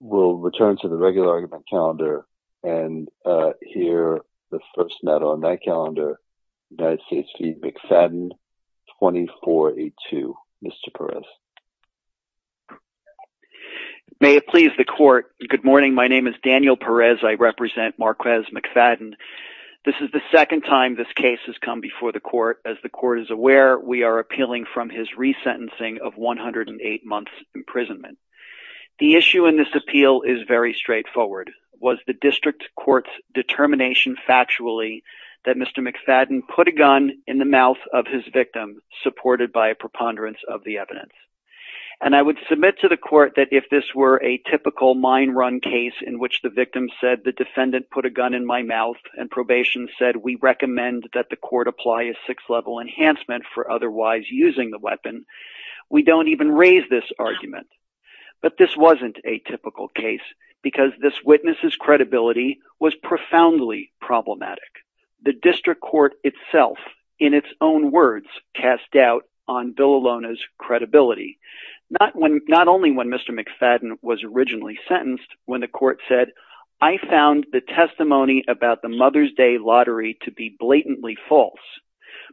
will return to the regular argument calendar and hear the first note on that calendar United States v McFadden 2482 Mr. Perez May it please the court. Good morning. My name is Daniel Perez. I represent Marquez McFadden This is the second time this case has come before the court as the court is aware We are appealing from his resentencing of 108 months imprisonment The issue in this appeal is very straightforward was the district court's determination factually that Mr. McFadden put a gun in the mouth of his victim supported by a preponderance of the evidence and I would submit to the court that if this were a typical mine run case in which the victim said the defendant put a gun in my mouth and Probation said we recommend that the court apply a six level enhancement for otherwise using the weapon We don't even raise this argument But this wasn't a typical case because this witness's credibility was profoundly problematic The district court itself in its own words cast doubt on Bill Alona's credibility Not when not only when Mr. McFadden was originally sentenced when the court said I found the testimony About the Mother's Day lottery to be blatantly false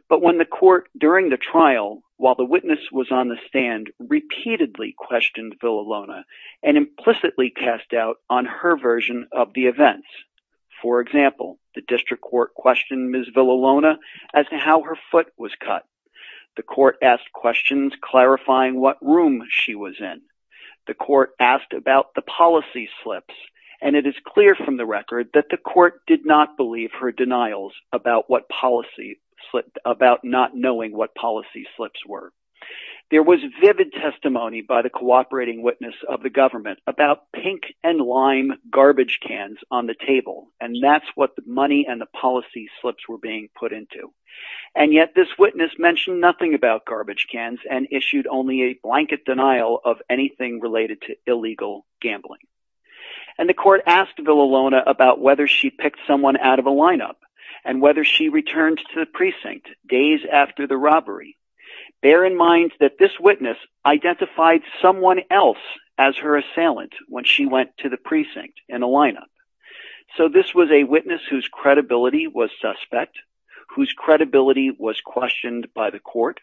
But when the court during the trial while the witness was on the stand Repeatedly questioned Bill Alona and implicitly cast doubt on her version of the events For example, the district court questioned Ms Bill Alona as to how her foot was cut the court asked questions clarifying what room she was in The court asked about the policy slips and it is clear from the record that the court did not believe her denials about what? policy slipped about not knowing what policy slips were There was vivid testimony by the cooperating witness of the government about pink and lime garbage cans on the table and that's what the money and the policy slips were being put into and Yet this witness mentioned nothing about garbage cans and issued only a blanket denial of anything related to illegal gambling and the court asked Bill Alona about whether she picked someone out of a lineup and whether she Returned to the precinct days after the robbery Bear in mind that this witness Identified someone else as her assailant when she went to the precinct in a lineup So this was a witness whose credibility was suspect whose credibility was questioned by the court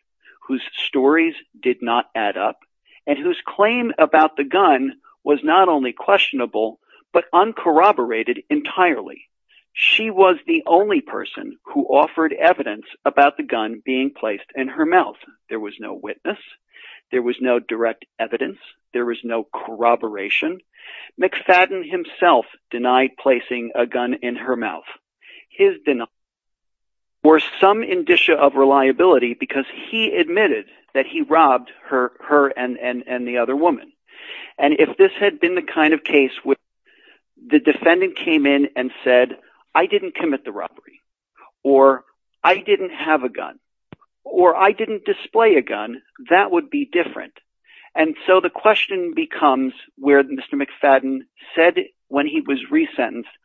Whose stories did not add up and whose claim about the gun was not only questionable but uncorroborated entirely She was the only person who offered evidence about the gun being placed in her mouth. There was no witness There was no direct evidence. There was no corroboration McFadden himself denied placing a gun in her mouth his denial for some indicia of reliability because he admitted that he robbed her her and and and the other woman and if this had been the kind of case with The defendant came in and said I didn't commit the robbery or I didn't have a gun or I didn't display a gun that would be different. And so the question becomes where the mr McFadden said when he was resentenced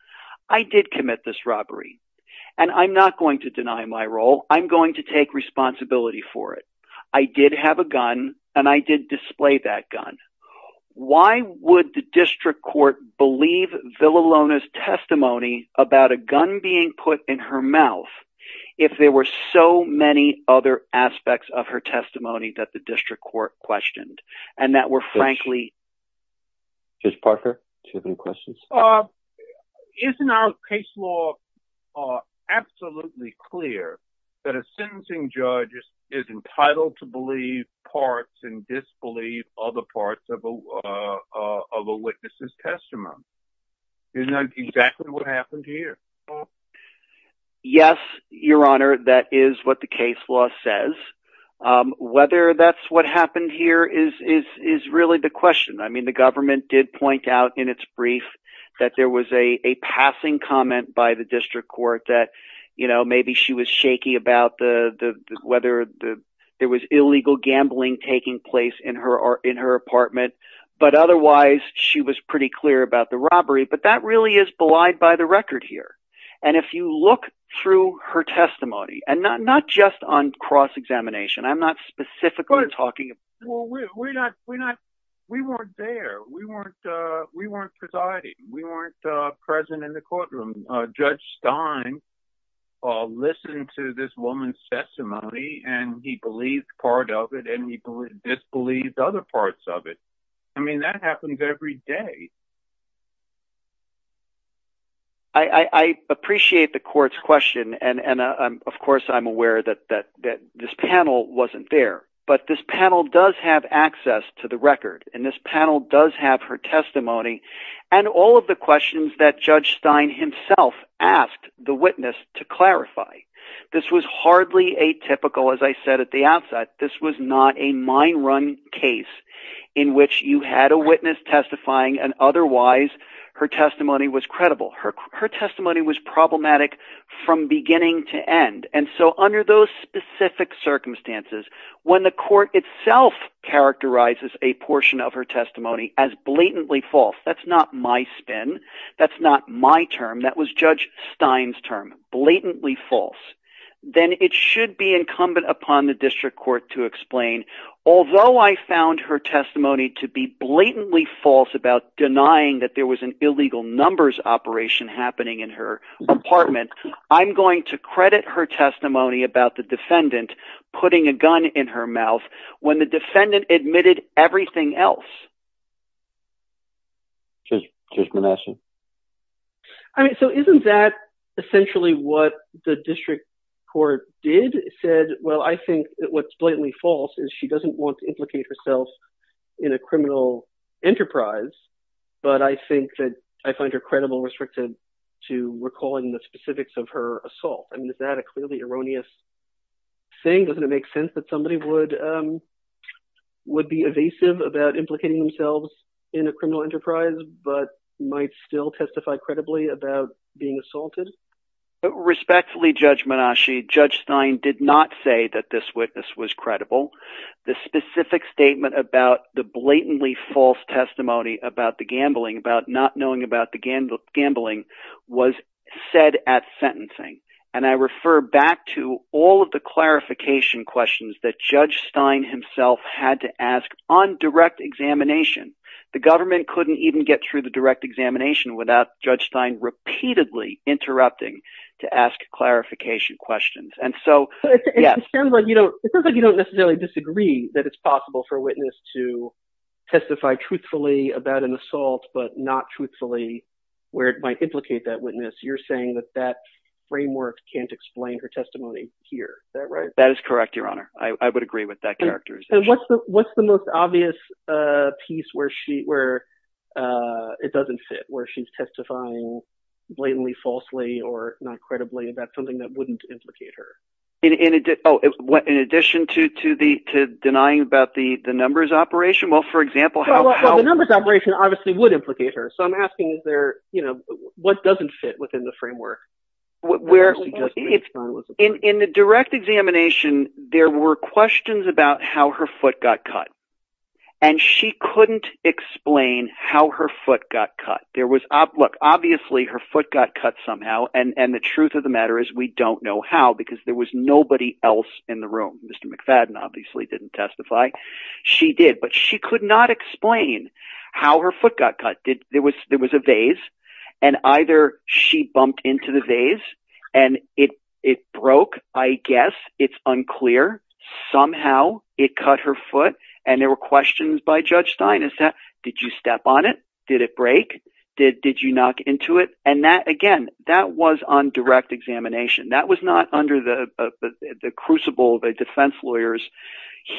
I did commit this robbery and I'm not going to deny my role I'm going to take responsibility for it. I did have a gun and I did display that gun Why would the district court believe Villa Lona's testimony about a gun being put in her mouth if There were so many other aspects of her testimony that the district court questioned and that were frankly Just Parker to the questions Isn't our case law Absolutely clear that a sentencing judge is entitled to believe Parts and disbelieve other parts of a Witnesses testimony is not exactly what happened here Yes, your honor. That is what the case law says Whether that's what happened here is is is really the question I mean the government did point out in its brief that there was a passing comment by the district court that you know, maybe she was shaky about the Whether the there was illegal gambling taking place in her or in her apartment But otherwise she was pretty clear about the robbery But that really is belied by the record here And if you look through her testimony and not not just on cross-examination, I'm not specifically talking We weren't there we weren't we weren't presiding we weren't present in the courtroom judge Stein Listened to this woman's testimony and he believed part of it and he believed disbelieved other parts of it I mean that happens every day. I Appreciate the court's question and and of course, I'm aware that that that this panel wasn't there but this panel does have access to the record and this panel does have her testimony and All of the questions that judge Stein himself asked the witness to clarify This was hardly a typical as I said at the outset This was not a mine run case in which you had a witness testifying And otherwise her testimony was credible her her testimony was problematic from beginning to end And so under those specific circumstances when the court itself Characterizes a portion of her testimony as blatantly false. That's not my spin. That's not my term That was judge Stein's term blatantly false Then it should be incumbent upon the district court to explain Although I found her testimony to be blatantly false about denying that there was an illegal numbers operation happening in her Apartment I'm going to credit her testimony about the defendant Putting a gun in her mouth when the defendant admitted everything else Just just menacing I Mean, so isn't that? Essentially what the district court did said? Well, I think what's blatantly false is she doesn't want to implicate herself in a criminal enterprise But I think that I find her credible restricted to recalling the specifics of her assault. I mean, is that a clearly erroneous? Thing doesn't it make sense that somebody would Would be evasive about implicating themselves in a criminal enterprise, but might still testify credibly about being assaulted Respectfully judge Menashe judge Stein did not say that this witness was credible the specific statement about the blatantly false testimony about the gambling about not knowing about the Gambling was said at sentencing and I refer back to all of the Clarification questions that judge Stein himself had to ask on direct examination The government couldn't even get through the direct examination without judge Stein repeatedly interrupting to ask clarification questions and so That it's possible for witness to testify truthfully about an assault but not truthfully Where it might implicate that witness you're saying that that framework can't explain her testimony here. That's right. That is correct. Your honor I would agree with that character. What's the what's the most obvious? piece where she where It doesn't fit where she's testifying Blatantly falsely or not credibly about something that wouldn't implicate her in it Oh, it's what in addition to to the to denying about the the numbers operation Well, for example, how the numbers operation obviously would implicate her So I'm asking is there you know, what doesn't fit within the framework? Where it's in in the direct examination. There were questions about how her foot got cut and She couldn't explain how her foot got cut There was a look obviously her foot got cut somehow and and the truth of the matter is we don't know how because there was Nobody else in the room. Mr. McFadden obviously didn't testify She did but she could not explain how her foot got cut did there was there was a vase and Either she bumped into the vase and it it broke. I guess it's unclear Somehow it cut her foot and there were questions by judge Stein is that did you step on it? Did it break did did you knock into it and that again that was on direct examination? That was not under the the crucible the defense lawyers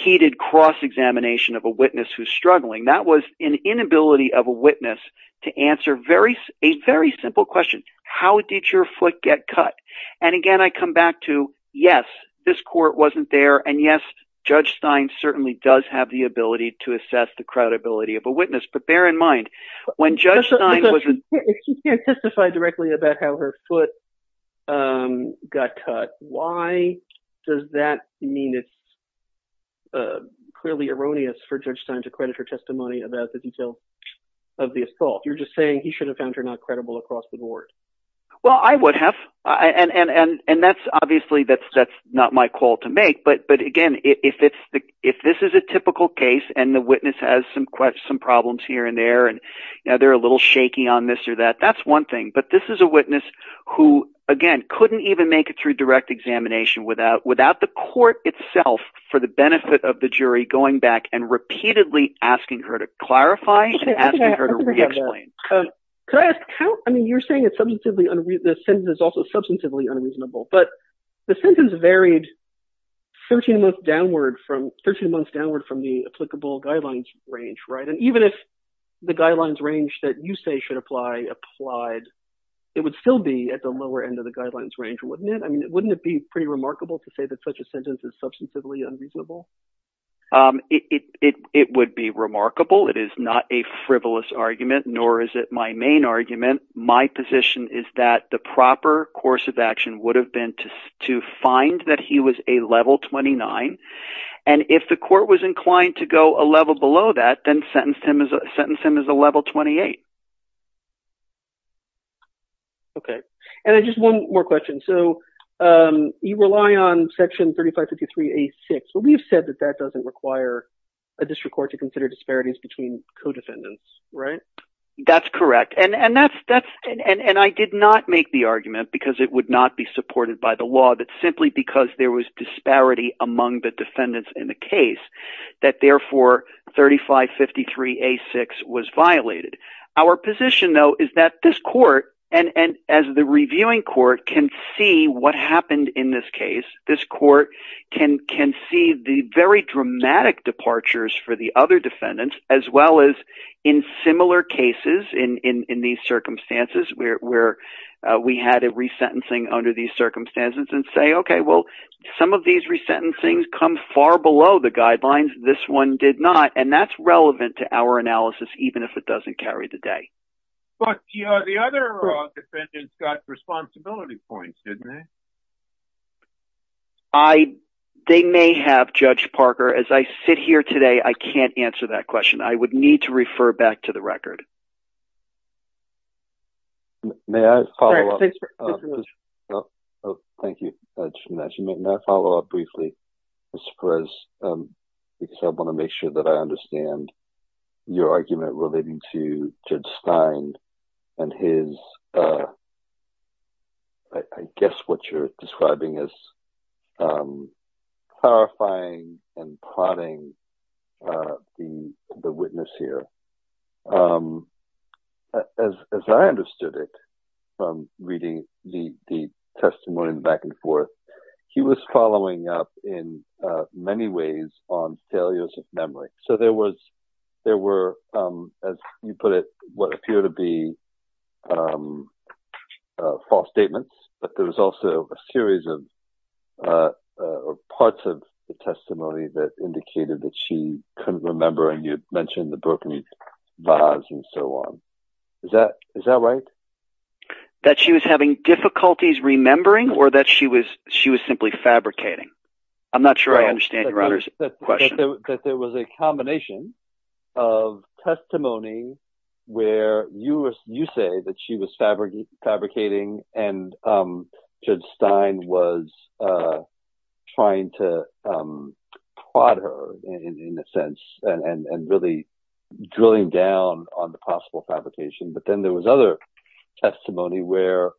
Heated cross-examination of a witness who's struggling that was an inability of a witness to answer very a very simple question How did your foot get cut? And again, I come back to yes, this court wasn't there And yes, judge Stein certainly does have the ability to assess the credibility of a witness But bear in mind when judge Stein was Testified directly about how her foot Got cut. Why does that mean it's Clearly erroneous for judge Stein to credit her testimony about the detail of the assault You're just saying he should have found her not credible across the board Well, I would have and and and and that's obviously that's that's not my call to make but but again If it's the if this is a typical case and the witness has some quite some problems here and there and now They're a little shaky on this or that that's one thing But this is a witness who again couldn't even make it through direct Examination without without the court itself for the benefit of the jury going back and repeatedly asking her to clarify Could I ask how I mean you're saying it's substantively unreasonable sentence also substantively unreasonable, but the sentence varied 13 month downward from 13 months downward from the applicable guidelines range, right? It would still be at the lower end of the guidelines range wouldn't it I mean it wouldn't it be pretty remarkable to say That such a sentence is substantively unreasonable It it it would be remarkable. It is not a frivolous argument Nor is it my main argument? my position is that the proper course of action would have been to to find that he was a level 29 and If the court was inclined to go a level below that then sentenced him as a sentenced him as a level 28 Okay, and I just one more question so You rely on section 3553 a six But we've said that that doesn't require a district court to consider disparities between co-defendants, right? That's correct And and that's that's and and I did not make the argument because it would not be supported by the law that simply because there Was disparity among the defendants in the case that therefore 3553 a six was violated our position though Is that this court and and as the reviewing court can see what happened in this case? this court can can see the very dramatic departures for the other defendants as well as in Similar cases in in these circumstances where we had a resentencing under these circumstances and say, okay Some of these resentencings come far below the guidelines this one did not and that's relevant to our analysis Even if it doesn't carry the day They may have judge Parker as I sit here today, I can't answer that question I would need to refer back to the record May I follow Oh Thank you My follow-up briefly. Mr. Perez Because I want to make sure that I understand your argument relating to judge Stein and his I Guess what you're describing is Clarifying and plotting the the witness here As I understood it from reading the Testimony back and forth. He was following up in Many ways on failures of memory. So there was there were as you put it what appear to be False statements, but there was also a series of Parts of the testimony that indicated that she couldn't remember and you'd mentioned the broken Vase and so on is that is that right? That she was having difficulties remembering or that she was she was simply fabricating. I'm not sure. I understand your honor's there was a combination of Testimony where you were you say that she was fabricating fabricating and judge Stein was trying to Prod her in a sense and and really drilling down on the possible fabrication, but then there was other Testimony where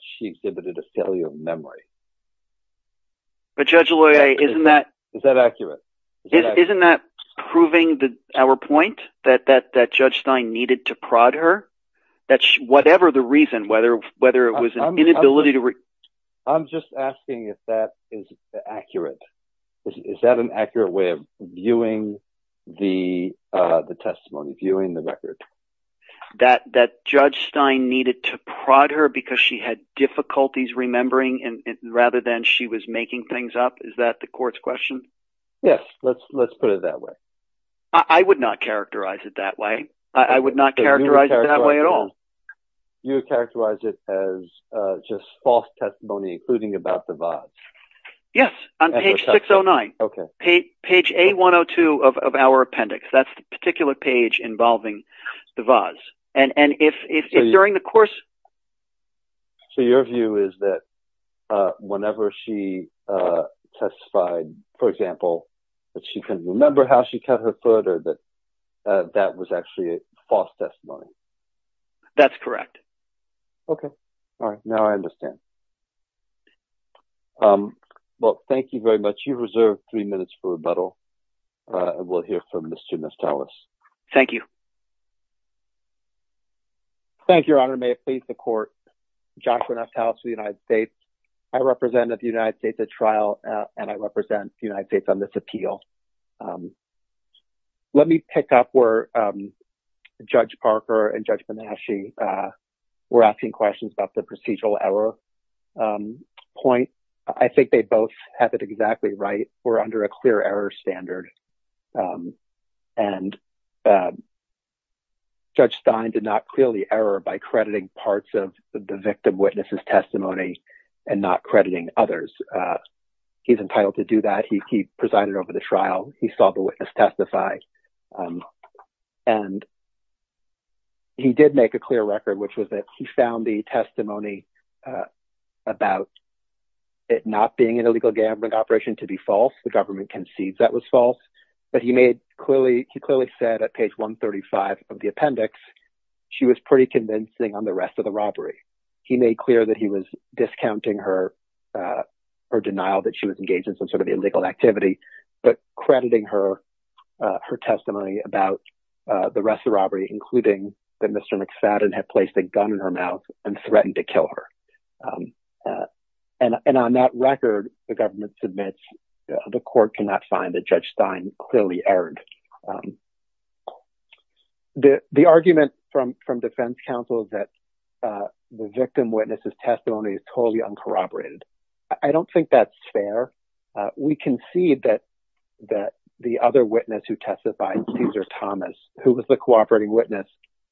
she exhibited a failure of memory But judge Loya, isn't that is that accurate? Isn't that proving the our point that that that judge Stein needed to prod her That's whatever the reason whether whether it was an inability to read I'm just asking if that is Accurate. Is that an accurate way of viewing? the the testimony viewing the record that that judge Stein needed to prod her because she had Difficulties remembering and rather than she was making things up. Is that the courts question? Yes. Let's let's put it that way I would not characterize it that way. I would not characterize it that way at all You characterize it as Just false testimony including about the vase Yes on page 609. Okay page page a 102 of our appendix That's the particular page involving the vase and and if it's during the course so your view is that whenever she Testified for example that she couldn't remember how she cut her foot or that that was actually a false testimony That's correct, okay. All right now I understand Well, thank you very much you've reserved three minutes for rebuttal and we'll hear from the students tell us thank you Thank Your Honor may it please the court Joshua nut house of the United States. I represented the United States at trial and I represent the United States on this appeal Let me pick up where Judge Parker and judgment that she Were asking questions about the procedural error Point, I think they both have it exactly right. We're under a clear error standard and Judge Stein did not clearly error by crediting parts of the victim witnesses testimony and not crediting others He's entitled to do that. He presided over the trial. He saw the witness testify And He did make a clear record which was that he found the testimony about It not being an illegal gambling operation to be false The government concedes that was false, but he made clearly he clearly said at page 135 of the appendix She was pretty convincing on the rest of the robbery. He made clear that he was discounting her Her denial that she was engaged in some sort of illegal activity, but crediting her her testimony about The rest of robbery including that. Mr. McFadden had placed a gun in her mouth and threatened to kill her And and on that record the government submits the court cannot find that judge Stein clearly erred The the argument from from defense counsel is that The victim witnesses testimony is totally uncorroborated. I don't think that's fair We concede that That the other witness who testified Caesar Thomas who was the cooperating witness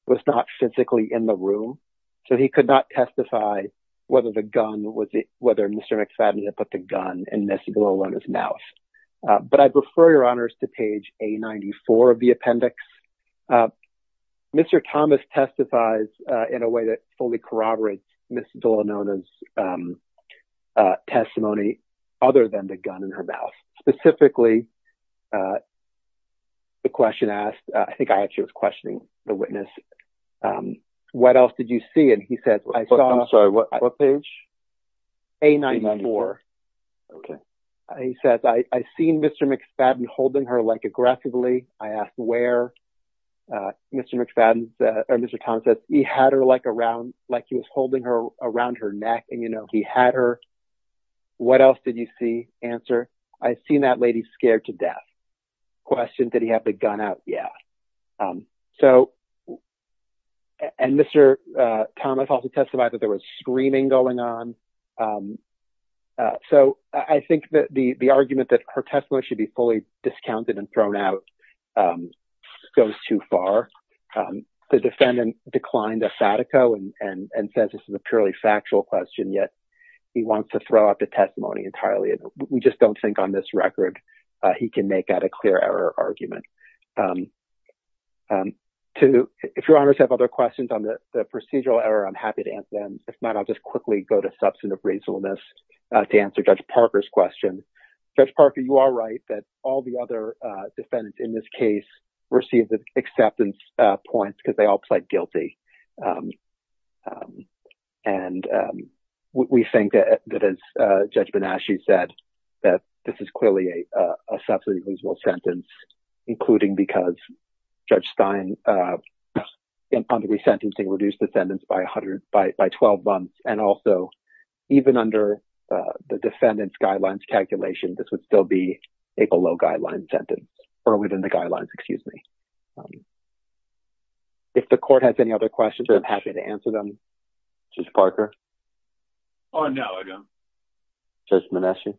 was not physically in the room So he could not testify Whether the gun was it whether mr. McFadden had put the gun and missy below on his mouth But I'd refer your honors to page a 94 of the appendix Mr. Thomas testifies in a way that fully corroborates. Mrs. Villanona's Other than the gun in her mouth specifically The question asked I think I actually was questioning the witness What else did you see and he said I'm sorry. What page a 94 Okay, he says I seen mr. McFadden holding her like aggressively. I asked where Mr. McFadden or mr. Thomas says he had her like around like he was holding her around her neck and you know, he had her What else did you see answer I seen that lady scared to death Question did he have the gun out? Yeah so And mr. Thomas also testified that there was screaming going on So, I think that the the argument that her testimony should be fully discounted and thrown out Goes too far The defendant declined a Fatico and and and says this is a purely factual question yet He wants to throw out the testimony entirely and we just don't think on this record. He can make that a clear error argument To if your honors have other questions on the procedural error, I'm happy to answer them It's not I'll just quickly go to substantive reasonableness to answer judge Parker's question judge Parker You are right that all the other Defendants in this case received the acceptance points because they all played guilty And We think that as judgment as she said that this is clearly a substance useable sentence including because judge Stein in punditry sentencing reduced defendants by 100 by 12 months and also Even under the defendant's guidelines calculation. This would still be a below guideline sentence Or within the guidelines, excuse me If the court has any other questions, I'm happy to answer them just Parker on now ago just menacing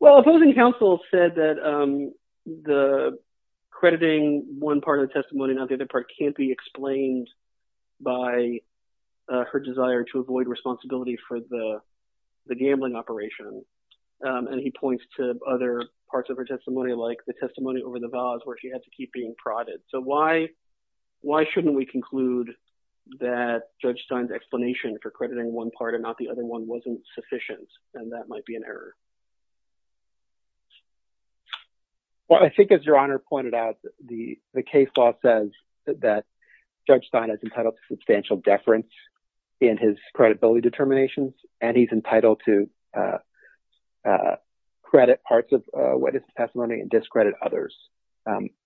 well opposing counsel said that the crediting one part of the testimony not the other part can't be explained by Her desire to avoid responsibility for the the gambling operation And he points to other parts of her testimony like the testimony over the vows where she had to keep being prodded so why Why shouldn't we conclude that? Judge Stein's explanation for crediting one part and not the other one wasn't sufficient and that might be an error Well, I think as your honor pointed out the the case law says that Judge Stein has entitled substantial deference in his credibility determinations, and he's entitled to Credit parts of what is testimony and discredit others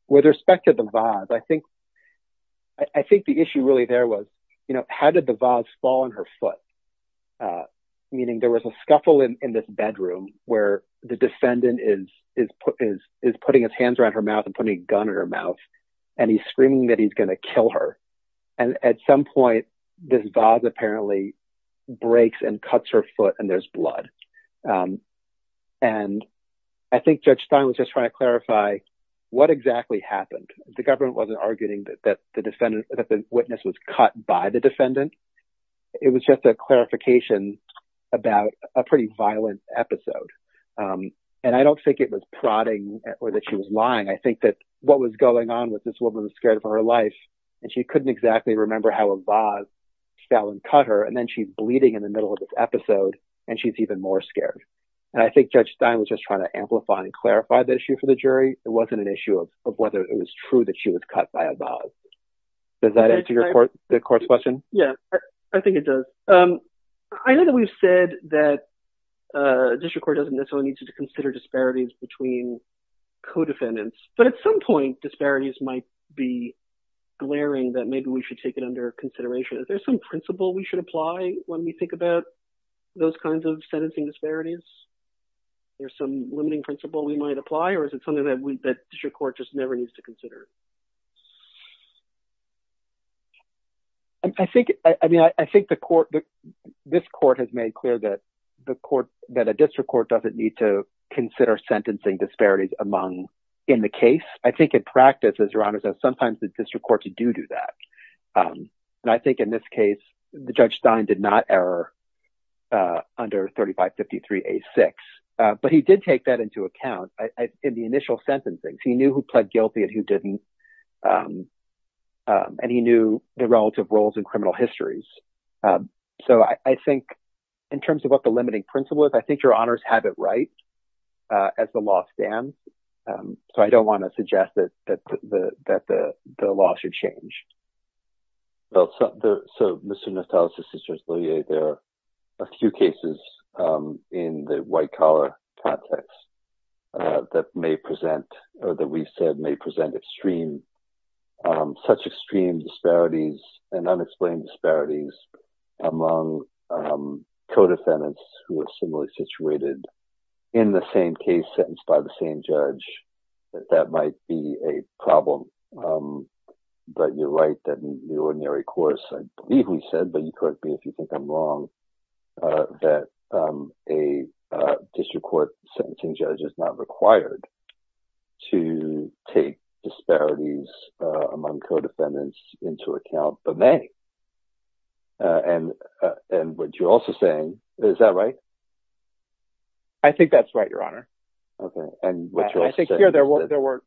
With respect to the vase. I think I Think the issue really there was, you know, how did the vase fall on her foot? meaning there was a scuffle in this bedroom where the defendant is is put is is putting his hands around her mouth and putting Gun in her mouth and he's screaming that he's going to kill her and at some point this vase apparently Breaks and cuts her foot and there's blood and I think judge Stein was just trying to clarify What exactly happened the government wasn't arguing that the defendant that the witness was cut by the defendant It was just a clarification About a pretty violent episode And I don't think it was prodding or that she was lying I think that what was going on with this woman was scared of her life and she couldn't exactly remember how a vase Fell and cut her and then she's bleeding in the middle of this episode and she's even more scared And I think judge Stein was just trying to amplify and clarify the issue for the jury It wasn't an issue of whether it was true that she was cut by a vase Does that answer your court the court's question? Yeah, I think it does. Um, I know that we've said that District Court doesn't necessarily need to consider disparities between Codefendants, but at some point disparities might be Glaring that maybe we should take it under consideration. Is there some principle we should apply when we think about those kinds of sentencing disparities? There's some limiting principle. We might apply or is it something that we'd bet your court just never needs to consider? I think I mean, I think the court This court has made clear that the court that a district court doesn't need to consider sentencing disparities among in the case I think in practice as your honors that sometimes the district court to do do that And I think in this case the judge Stein did not error Under 3553 a6, but he did take that into account in the initial sentencing. He knew who pled guilty and who didn't And he knew the relative roles in criminal histories So I think in terms of what the limiting principle is, I think your honors have it, right? as the law stands So I don't want to suggest that that the that the the law should change Well, so there so mr. Nathalys assisters. Oh, yeah, there are a few cases in the white-collar context That may present or that we said may present extreme such extreme disparities and unexplained disparities among Codefendants who were similarly situated in the same case sentenced by the same judge that that might be a problem But you're right that in the ordinary course, I believe we said but you correct me if you think I'm wrong that a district court sentencing judge is not required to Take disparities among codefendants into account, but may And and what you're also saying, is that right I Think that's right. Your honor. Okay, and I think here there was there were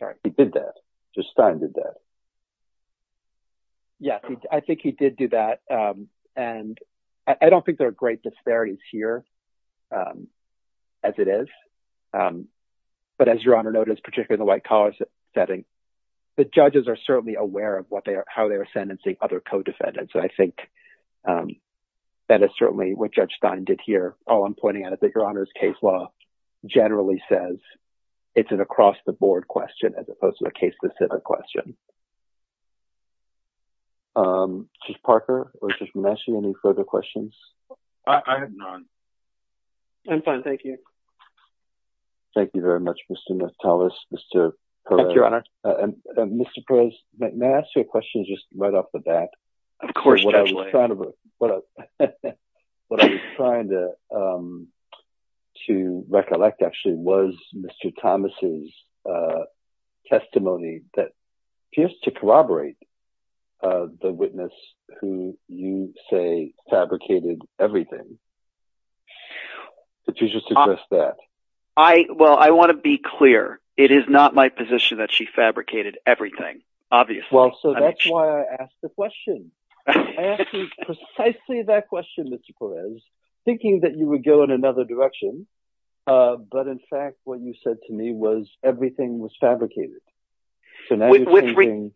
sorry he did that just time did that Yes, I think he did do that and I don't think there are great disparities here as it is But as your honor notice particularly the white-collar setting The judges are certainly aware of what they are how they are sentencing other codefendants, I think That is certainly what judge Stein did here. All I'm pointing out is that your honor's case law Generally says it's an across-the-board question as opposed to a case-specific question She's Parker, which is messy any further questions I'm fine. Thank you Thank you very much, mr. Metellus, mr. Thank your honor and mr. Perez, may I ask you a question just right off the bat of course trying to work, but what I'm trying to To recollect actually was mr. Thomas's Testimony that appears to corroborate The witness who you say fabricated everything I Well, I want to be clear it is not my position that she fabricated everything obviously Precisely that question mr. Perez thinking that you would go in another direction But in fact what you said to me was everything was fabricated With reading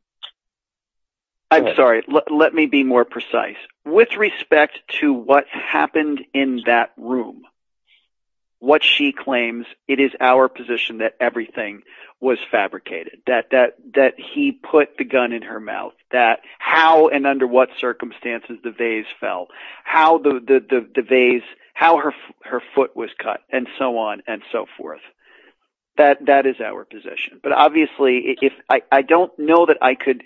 I'm sorry. Let me be more precise with respect to what happened in that room What she claims it is our position that everything was fabricated that that that he put the gun in her mouth that how and under what circumstances the vase fell how the Vase how her her foot was cut and so on and so forth That that is our position, but obviously if I don't know that I could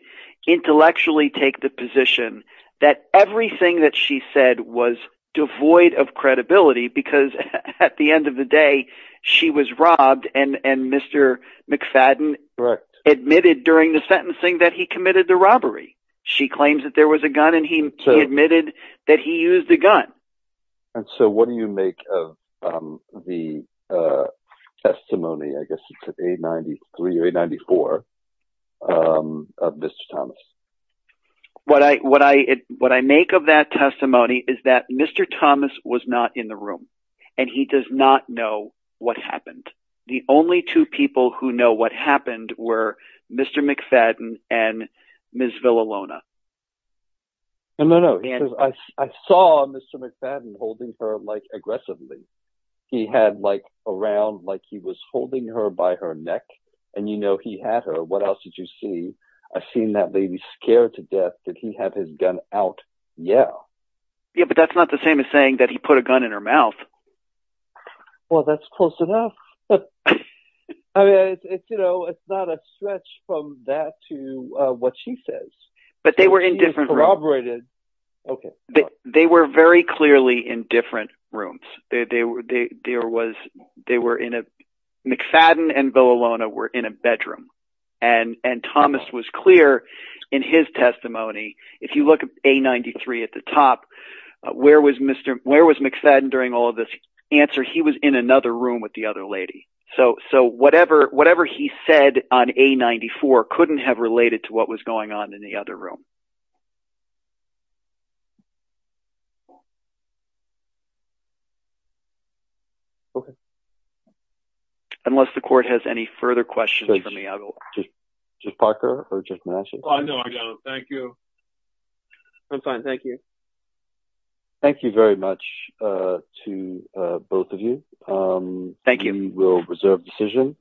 intellectually take the position that everything that she said was Devoid of credibility because at the end of the day she was robbed and and mr. McFadden correct admitted during the sentencing that he committed the robbery She claims that there was a gun and he admitted that he used the gun and so what do you make of the Testimony, I guess it's at a 93 or a 94 of mr. Thomas What I what I what I make of that testimony is that mr Thomas was not in the room and he does not know what happened. The only two people who know what happened were mr. McFadden and Miss Villalona And no, no, I saw mr. McFadden holding her like aggressively He had like around like he was holding her by her neck and you know, he had her what else did you see? I've seen that lady scared to death. Did he have his gun out? Yeah Yeah, but that's not the same as saying that he put a gun in her mouth Well, that's close enough. But I Mean, it's you know, it's not a stretch from that to what she says, but they were indifferent operated Okay, but they were very clearly in different rooms there they were there was they were in a McFadden and Villalona were in a bedroom and and Thomas was clear in his testimony If you look at a 93 at the top Where was mr. Where was McFadden during all of this answer? He was in another room with the other lady So so whatever whatever he said on a 94 couldn't have related to what was going on in the other room Okay Unless the court has any further questions for me. I'll just Parker or Jeff Nash. I know I don't thank you I'm fine. Thank you Thank you very much to both of you Thank you will reserve decision